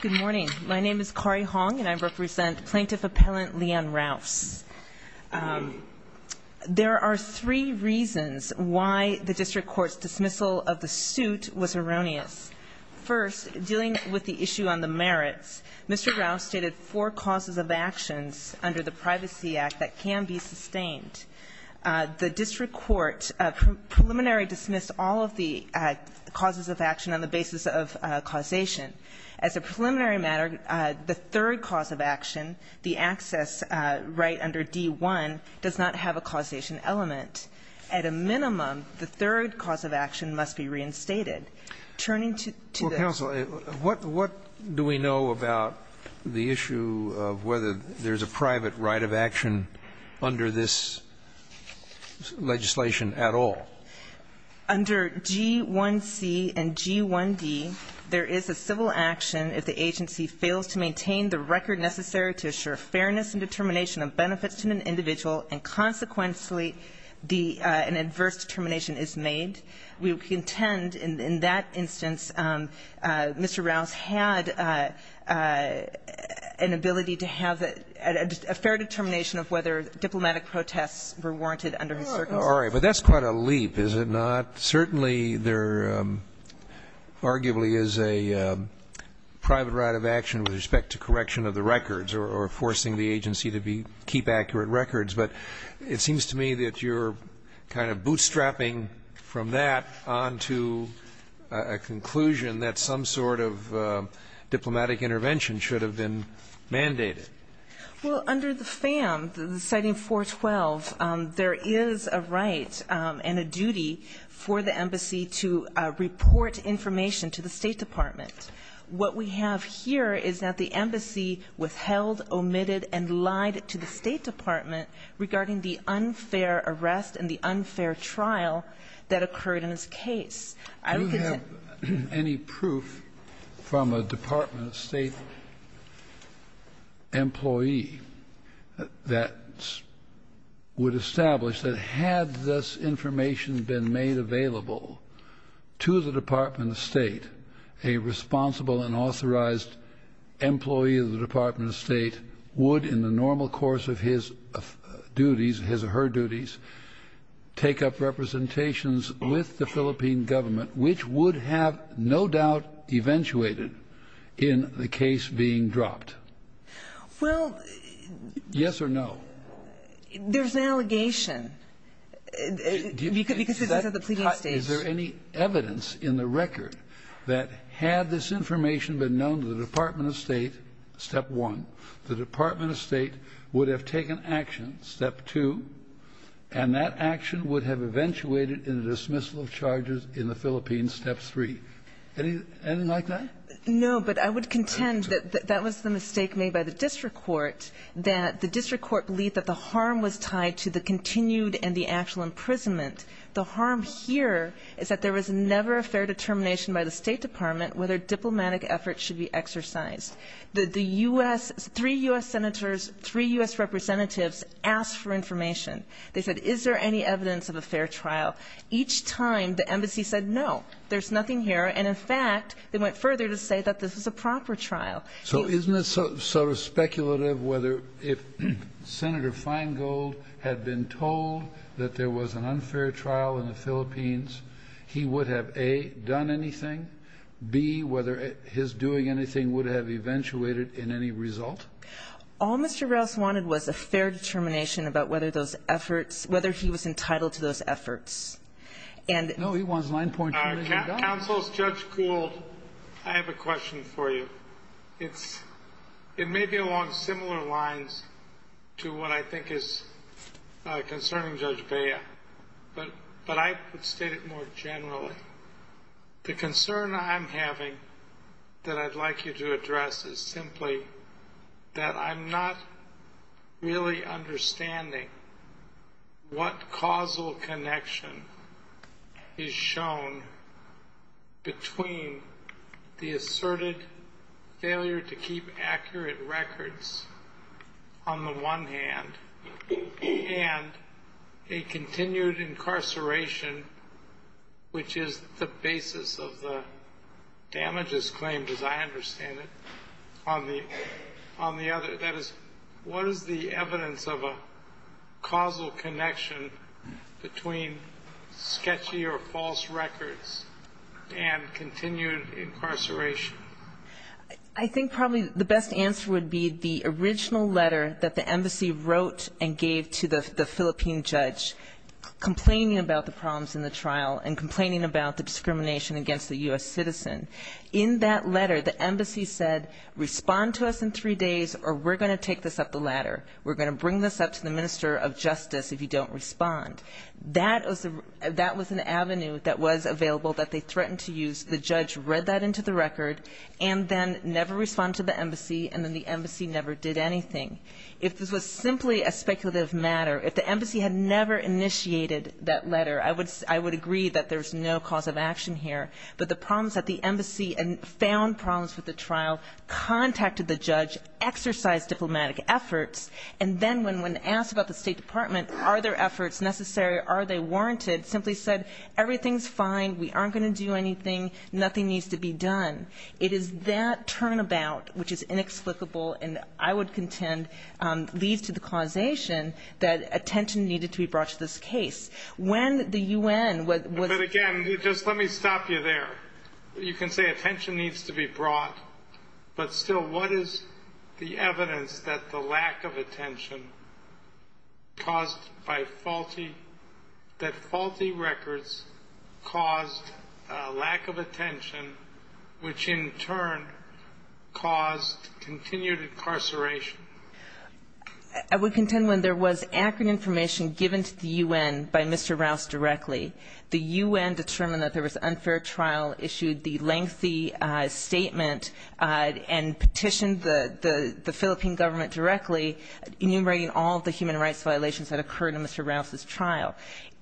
Good morning. My name is Kari Hong, and I represent Plaintiff Appellant Leanne Rouse. There are three reasons why the district court's dismissal of the suit was erroneous. First, dealing with the issue on the merits, Mr. Rouse stated four causes of actions under the Privacy Act that can be sustained. The district court preliminary dismissed all of the causes of action on the basis of causation. As a preliminary matter, the third cause of action, the access right under D-1, does not have a causation element. At a minimum, the third cause of action must be reinstated. Turning to the other issues, Justice Sotomayor, what do we know about the issue of whether there's a private right of action under this legislation at all? Under G-1C and G-1D, there is a civil action if the agency fails to maintain the record necessary to assure fairness and determination of benefits to an individual and, consequently, the — an adverse determination is made. We contend in that instance Mr. Rouse had an ability to have a — a fair determination of whether diplomatic protests were warranted under his circumstances. I'm sorry, but that's quite a leap, is it not? Certainly there arguably is a private right of action with respect to correction of the records or forcing the agency to be — keep accurate records, but it seems to me that you're kind of bootstrapping from that on to a conclusion that some sort of diplomatic intervention should have been mandated. Well, under the FAM, the — the citing 412, there is a right and a duty for the embassy to report information to the State Department. What we have here is that the embassy withheld, omitted, and lied to the State Department regarding the unfair arrest and the unfair trial that occurred in this case. Do you have any proof from a Department of State employee that would establish that had this information been made available to the Department of State, a responsible and authorized employee of the Department of State would, in the normal course of his duties, his or her duties, take up representations with the Philippine government, which would have no doubt eventuated in the case being dropped? Well — Yes or no? There's an allegation because it's at the pleading stage. Is there any evidence in the record that had this information been known to the Department of State, step one, the Department of State would have taken action, step two, and that action would have eventuated in the dismissal of charges in the Philippines, step three? Anything like that? No, but I would contend that that was the mistake made by the district court, that the district court believed that the harm was tied to the continued and the actual imprisonment. The harm here is that there was never a fair determination by the State Department whether diplomatic efforts should be exercised. The U.S. — three U.S. senators, three U.S. representatives asked for information. They said, is there any evidence of a fair trial? Each time, the embassy said, no, there's nothing here, and in fact, they went further to say that this was a proper trial. So isn't it sort of speculative whether if Senator Feingold had been told that there was an unfair trial in the Philippines, he would have, A, done anything, B, whether his doing anything would have eventuated in any result? All Mr. Rouse wanted was a fair determination about whether those efforts — whether he was entitled to those efforts. And — No, he wants line points. Counsel, Judge Kuhl, I have a question for you. It's — it may be along similar lines to what I think is concerning Judge Bea, but I would state it more generally. The concern I'm having that I'd like you to address is simply that I'm not really understanding what causal connection is shown between the asserted failure to keep accurate records on the one hand and a continued incarceration, which is the basis of the damages claimed, as I understand it, on the — on the other. That is, what is the evidence of a causal connection between sketchy or false records and continued incarceration? I think probably the best answer would be the original letter that the embassy wrote and gave to the Philippine judge, complaining about the problems in the trial and complaining about the discrimination against the U.S. citizen. In that letter, the embassy said, respond to us in three days or we're going to take this up the ladder. We're going to bring this up to the minister of justice if you don't respond. That was an avenue that was available that they threatened to use. The judge read that into the record and then never responded to the embassy, and then the embassy never did anything. If this was simply a speculative matter, if the embassy had never initiated that letter, I would agree that there's no cause of action here. But the problems at the embassy and found problems with the trial, contacted the judge, exercised diplomatic efforts, and then when asked about the State Department, are their efforts necessary, are they warranted, simply said everything's fine, we aren't going to do anything, nothing needs to be done. It is that turnabout, which is inexplicable and I would contend leads to the causation that attention needed to be brought to this case. When the U.N. was — You can say attention needs to be brought, but still what is the evidence that the lack of attention caused by faulty — that faulty records caused a lack of attention, which in turn caused continued incarceration? I would contend when there was accurate information given to the U.N. by Mr. Rouse directly, the U.N. determined that there was an unfair trial, issued the lengthy statement, and petitioned the Philippine government directly enumerating all the human rights violations that occurred in Mr. Rouse's trial.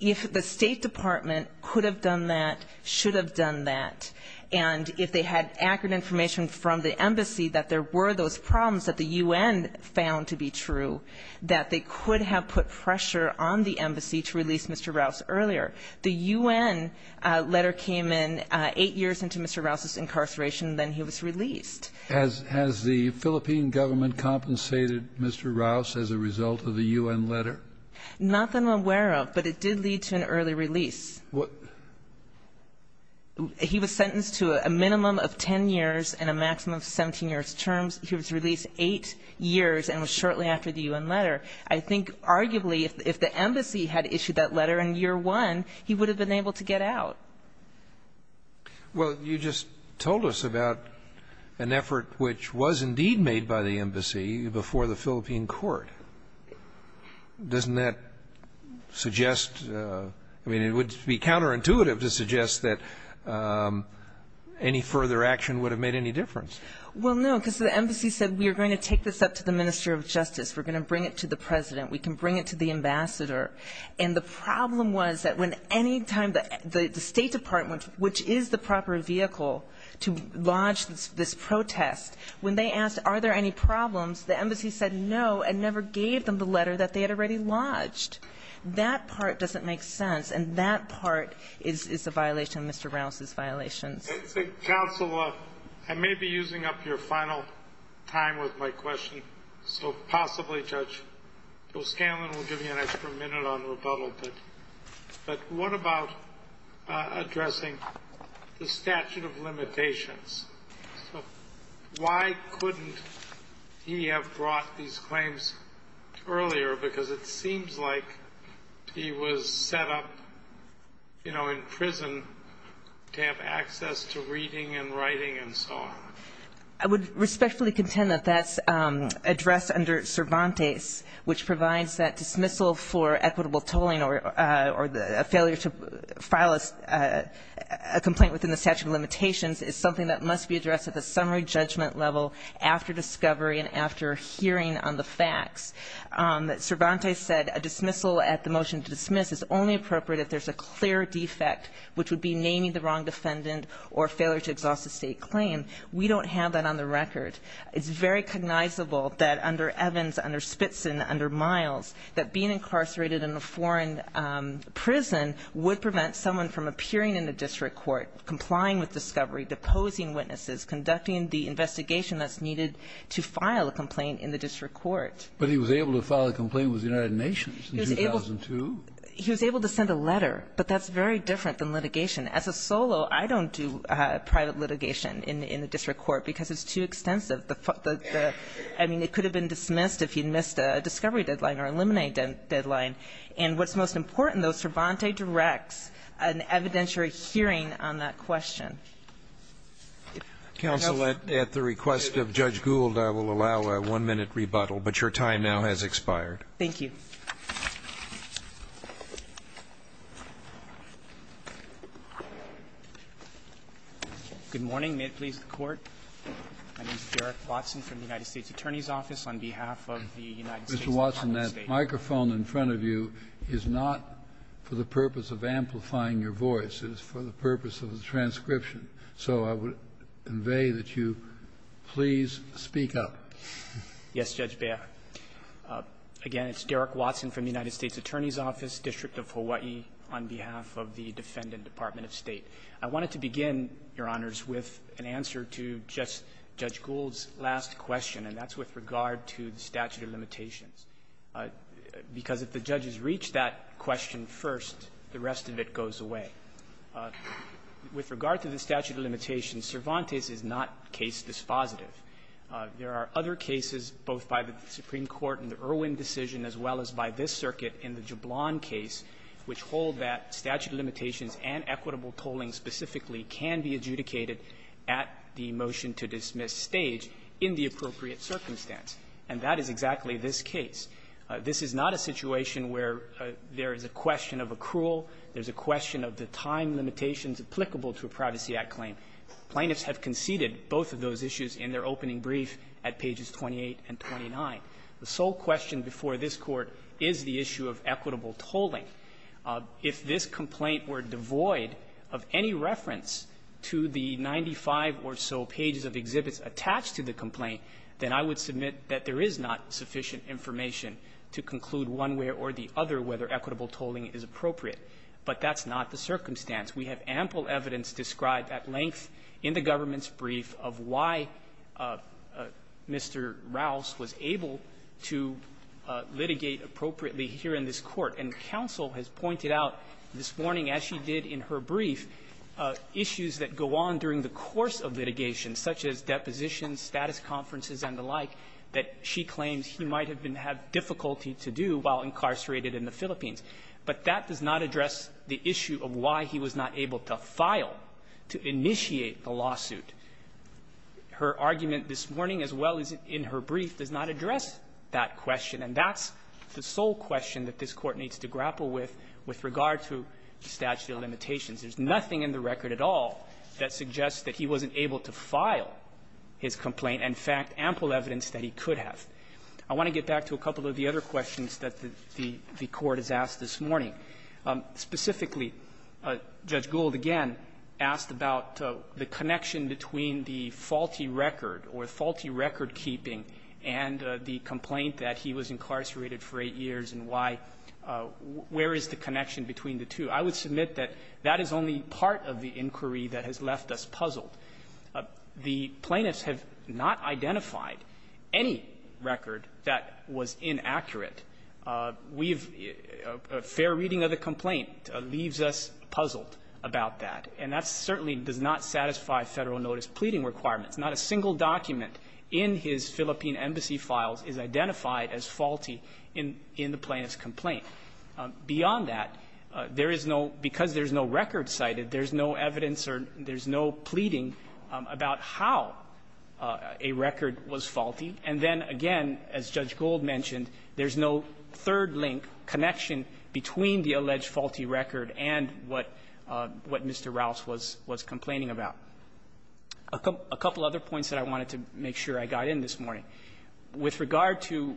If the State Department could have done that, should have done that, and if they had accurate information from the embassy that there were those problems that the U.N. found to be true, that they could have put pressure on the embassy to release Mr. Rouse earlier. The U.N. letter came in eight years into Mr. Rouse's incarceration, then he was released. Has the Philippine government compensated Mr. Rouse as a result of the U.N. letter? Not that I'm aware of, but it did lead to an early release. He was sentenced to a minimum of 10 years and a maximum of 17 years' terms. He was released eight years and was shortly after the U.N. letter. I think arguably if the embassy had issued that letter in year one, he would have been able to get out. Well, you just told us about an effort which was indeed made by the embassy before the Philippine court. Doesn't that suggest, I mean, it would be counterintuitive to suggest that any further action would have made any difference. Well, no, because the embassy said we are going to take this up to the minister of justice, we're going to bring it to the president, we can bring it to the ambassador. And the problem was that when any time the State Department, which is the proper vehicle to launch this protest, when they asked are there any problems, the embassy said no and never gave them the letter that they had already lodged. That part doesn't make sense, and that part is a violation of Mr. Rouse's violations. Counsel, I may be using up your final time with my question, so possibly, Judge. So, Scanlon, we'll give you an extra minute on rebuttal, but what about addressing the statute of limitations? Why couldn't he have brought these claims earlier? Because it seems like he was set up, you know, in prison to have access to reading and writing and so on. I would respectfully contend that that's addressed under Cervantes, which provides that dismissal for equitable tolling or a failure to file a complaint within the statute of limitations is something that must be addressed at the summary judgment level after discovery and after hearing on the facts. Cervantes said a dismissal at the motion to dismiss is only appropriate if there's a clear defect, which would be naming the wrong defendant or failure to exhaust a state claim. We don't have that on the record. It's very cognizable that under Evans, under Spitson, under Miles, that being incarcerated in a foreign prison would prevent someone from appearing in a district court, complying with discovery, deposing witnesses, conducting the investigation that's needed to file a complaint in the district court. But he was able to file a complaint with the United Nations in 2002. He was able to send a letter, but that's very different than litigation. As a solo, I don't do private litigation in the district court because it's too extensive. I mean, it could have been dismissed if he had missed a discovery deadline or eliminated a deadline. And what's most important, though, Cervantes directs an evidentiary hearing on that question. Counsel, at the request of Judge Gould, I will allow a one-minute rebuttal, but your time now has expired. Thank you. Good morning. May it please the Court. My name is Derek Watson from the United States Attorney's Office. On behalf of the United States Department of State. Mr. Watson, that microphone in front of you is not for the purpose of amplifying your voice. It is for the purpose of the transcription. So I would convey that you please speak up. Yes, Judge Behar. Again, it's Derek Watson from the United States Attorney's Office, District of Hawaii, on behalf of the Defendant Department of State. I wanted to begin, Your Honors, with an answer to just Judge Gould's last question, and that's with regard to the statute of limitations, because if the judges reach that question first, the rest of it goes away. With regard to the statute of limitations, Cervantes is not case dispositive. There are other cases, both by the Supreme Court in the Irwin decision as well as by this circuit in the Jablon case, which hold that statute of limitations and equitable tolling specifically can be adjudicated at the motion-to-dismiss stage in the appropriate circumstance, and that is exactly this case. This is not a situation where there is a question of accrual. There's a question of the time limitations applicable to a Privacy Act claim. Plaintiffs have conceded both of those issues in their opening brief at pages 28 and 29. The sole question before this Court is the issue of equitable tolling. If this complaint were devoid of any reference to the 95 or so pages of exhibits attached to the complaint, then I would submit that there is not sufficient information to conclude one way or the other whether equitable tolling is appropriate. But that's not the circumstance. We have ample evidence described at length in the government's brief of why Mr. Rouse was able to litigate appropriately here in this Court. And counsel has pointed out this morning, as she did in her brief, issues that go on during the course of litigation, such as depositions, status conferences, and the like, that she claims he might have been have difficulty to do while incarcerated in the Philippines. But that does not address the issue of why he was not able to file to initiate the lawsuit. Her argument this morning, as well as in her brief, does not address that question. And that's the sole question that this Court needs to grapple with with regard to statute of limitations. There's nothing in the record at all that suggests that he wasn't able to file his complaint, and, in fact, ample evidence that he could have. I want to get back to a couple of the other questions that the Court has asked this morning. Specifically, Judge Gould, again, asked about the connection between the faulty record or faulty record-keeping and the complaint that he was incarcerated for eight years and why — where is the connection between the two. I would submit that that is only part of the inquiry that has left us puzzled. The plaintiffs have not identified any record that was inaccurate. We've — a fair reading of the complaint leaves us puzzled about that. And that certainly does not satisfy Federal notice pleading requirements. Not a single document in his Philippine embassy files is identified as faulty in the plaintiff's complaint. Beyond that, there is no — because there's no record cited, there's no evidence or there's no pleading about how a record was faulty. And then, again, as Judge Gould mentioned, there's no third-link connection between the alleged faulty record and what Mr. Rouse was complaining about. A couple other points that I wanted to make sure I got in this morning. With regard to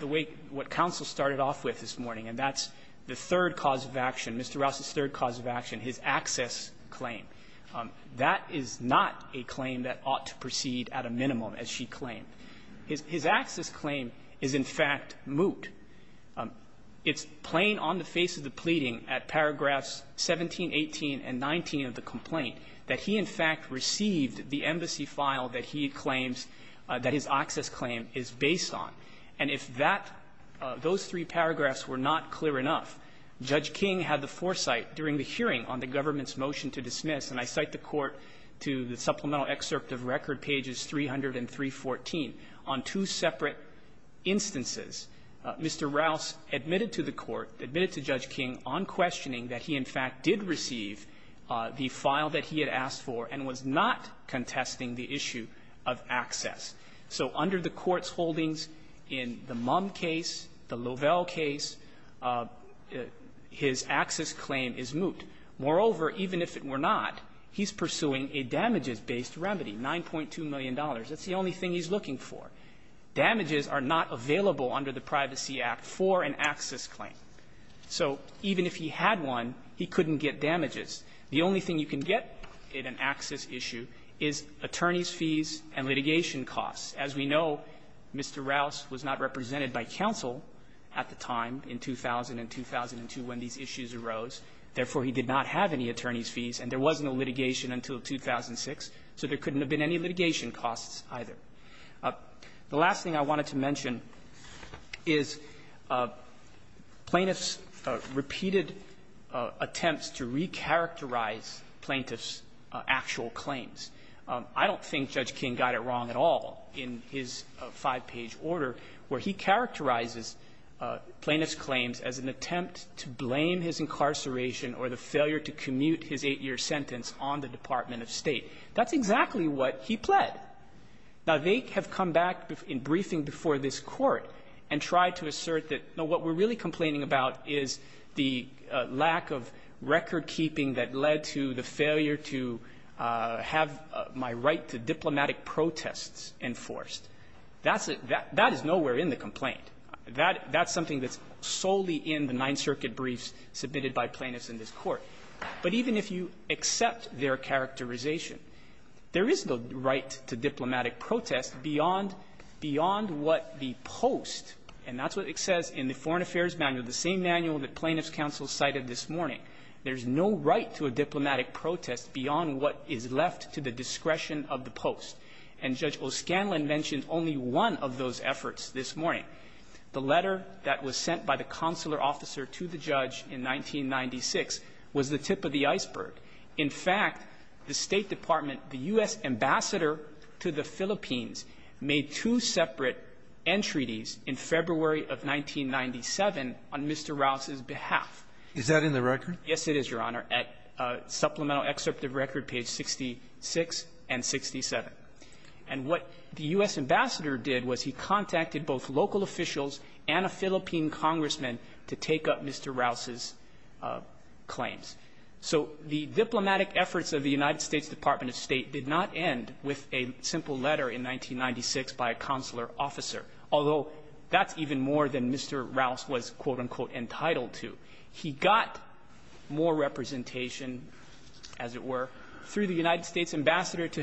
the way — what counsel started off with this morning, and that's the third cause of action, Mr. Rouse's third cause of action, his access claim. That is not a claim that ought to proceed at a minimum, as she claimed. His access claim is, in fact, moot. It's plain on the face of the pleading at paragraphs 17, 18, and 19 of the complaint that he, in fact, received the embassy file that he claims that his access claim is based on. And if that — those three paragraphs were not clear enough, Judge King had the foresight during the hearing on the government's motion to dismiss, and I cite the Court to the Mr. Rouse admitted to the Court, admitted to Judge King on questioning that he, in fact, did receive the file that he had asked for and was not contesting the issue of access. So under the Court's holdings in the Mumm case, the Lovell case, his access claim is moot. Moreover, even if it were not, he's pursuing a damages-based remedy, $9.2 million. That's the only thing he's looking for. Damages are not available under the Privacy Act for an access claim. So even if he had one, he couldn't get damages. The only thing you can get in an access issue is attorneys' fees and litigation costs. As we know, Mr. Rouse was not represented by counsel at the time, in 2000 and 2002, when these issues arose. Therefore, he did not have any attorneys' fees, and there was no litigation until 2006. So there couldn't have been any litigation costs either. The last thing I wanted to mention is Plaintiff's repeated attempts to recharacterize Plaintiff's actual claims. I don't think Judge King got it wrong at all in his five-page order, where he characterizes Plaintiff's claims as an attempt to blame his incarceration or the failure to commute his eight-year sentence on the Department of State. That's exactly what he pled. Now, they have come back in briefing before this court and tried to assert that, no, what we're really complaining about is the lack of record keeping that led to the failure to have my right to diplomatic protests enforced. That is nowhere in the complaint. That's something that's solely in the Ninth Amendment in this court. But even if you accept their characterization, there is no right to diplomatic protest beyond what the post, and that's what it says in the Foreign Affairs Manual, the same manual that Plaintiff's counsel cited this morning. There's no right to a diplomatic protest beyond what is left to the discretion of the post. And Judge O'Scanlan mentioned only one of those efforts this morning. The letter that was sent by the consular officer to the judge in 1996 was the tip of the iceberg. In fact, the State Department, the U.S. Ambassador to the Philippines, made two separate entreaties in February of 1997 on Mr. Rouse's behalf. Is that in the record? Yes, it is, Your Honor, at Supplemental Excerpt of Record, page 66 and 67. And what the U.S. Ambassador did was he contacted both local officials and a Philippine congressman to take up Mr. Rouse's claims. So the diplomatic efforts of the United States Department of State did not end with a simple letter in 1996 by a consular officer, although that's even more than Mr. Rouse was, quote-unquote, entitled to. He got more representation, as it were, through the United States Ambassador to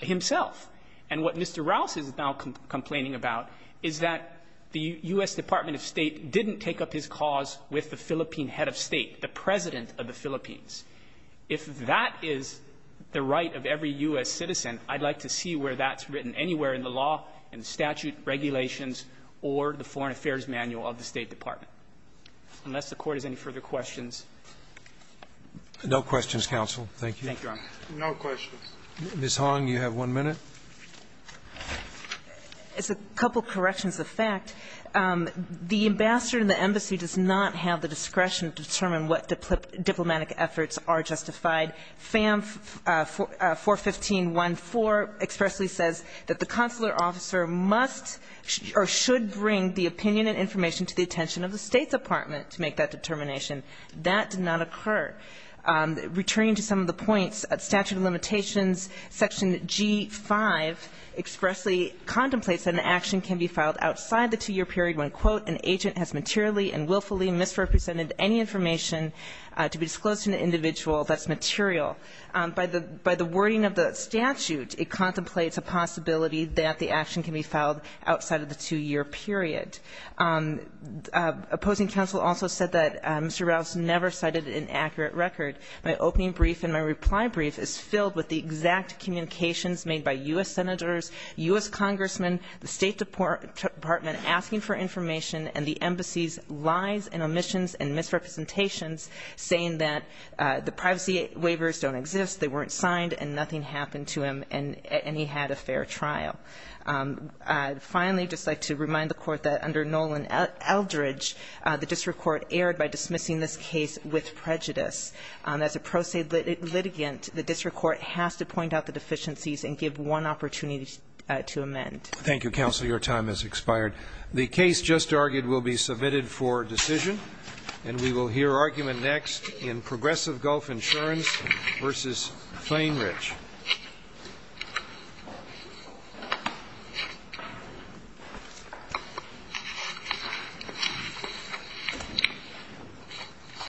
himself. And what Mr. Rouse is now complaining about is that the U.S. Department of State didn't take up his cause with the Philippine head of state, the president of the Philippines. If that is the right of every U.S. citizen, I'd like to see where that's written anywhere in the law, in the statute, regulations, or the Foreign Affairs Manual of the State Department, unless the Court has any further questions. No questions, counsel. Thank you. Thank you, Your Honor. No questions. Ms. Hong, you have one minute. It's a couple of corrections of fact. The ambassador and the embassy does not have the discretion to determine what diplomatic efforts are justified. FAM 41514 expressly says that the consular officer must or should bring the opinion and information to the attention of the State Department to make that determination. That did not occur. Returning to some of the points, statute of limitations, section G-5 expressly contemplates that an action can be filed outside the two-year period when, quote, an agent has materially and willfully misrepresented any information to be disclosed to an individual that's material. By the wording of the statute, it contemplates a possibility that the action can be filed outside of the two-year period. Opposing counsel also said that Mr. Rouse never cited an accurate record. My opening brief and my reply brief is filled with the exact communications made by U.S. senators, U.S. congressmen, the State Department asking for information, and the embassy's lies and omissions and misrepresentations saying that the privacy waivers don't exist, they weren't signed, and nothing happened to him, and he had a fair trial. Finally, I'd just like to remind the Court that under Nolan Eldridge, the district court erred by dismissing this case with prejudice. As a pro se litigant, the district court has to point out the deficiencies and give one opportunity to amend. Thank you, counsel. Your time has expired. The case just argued will be submitted for decision, and we will hear argument next in Progressive Gulf Insurance v. Fainrich.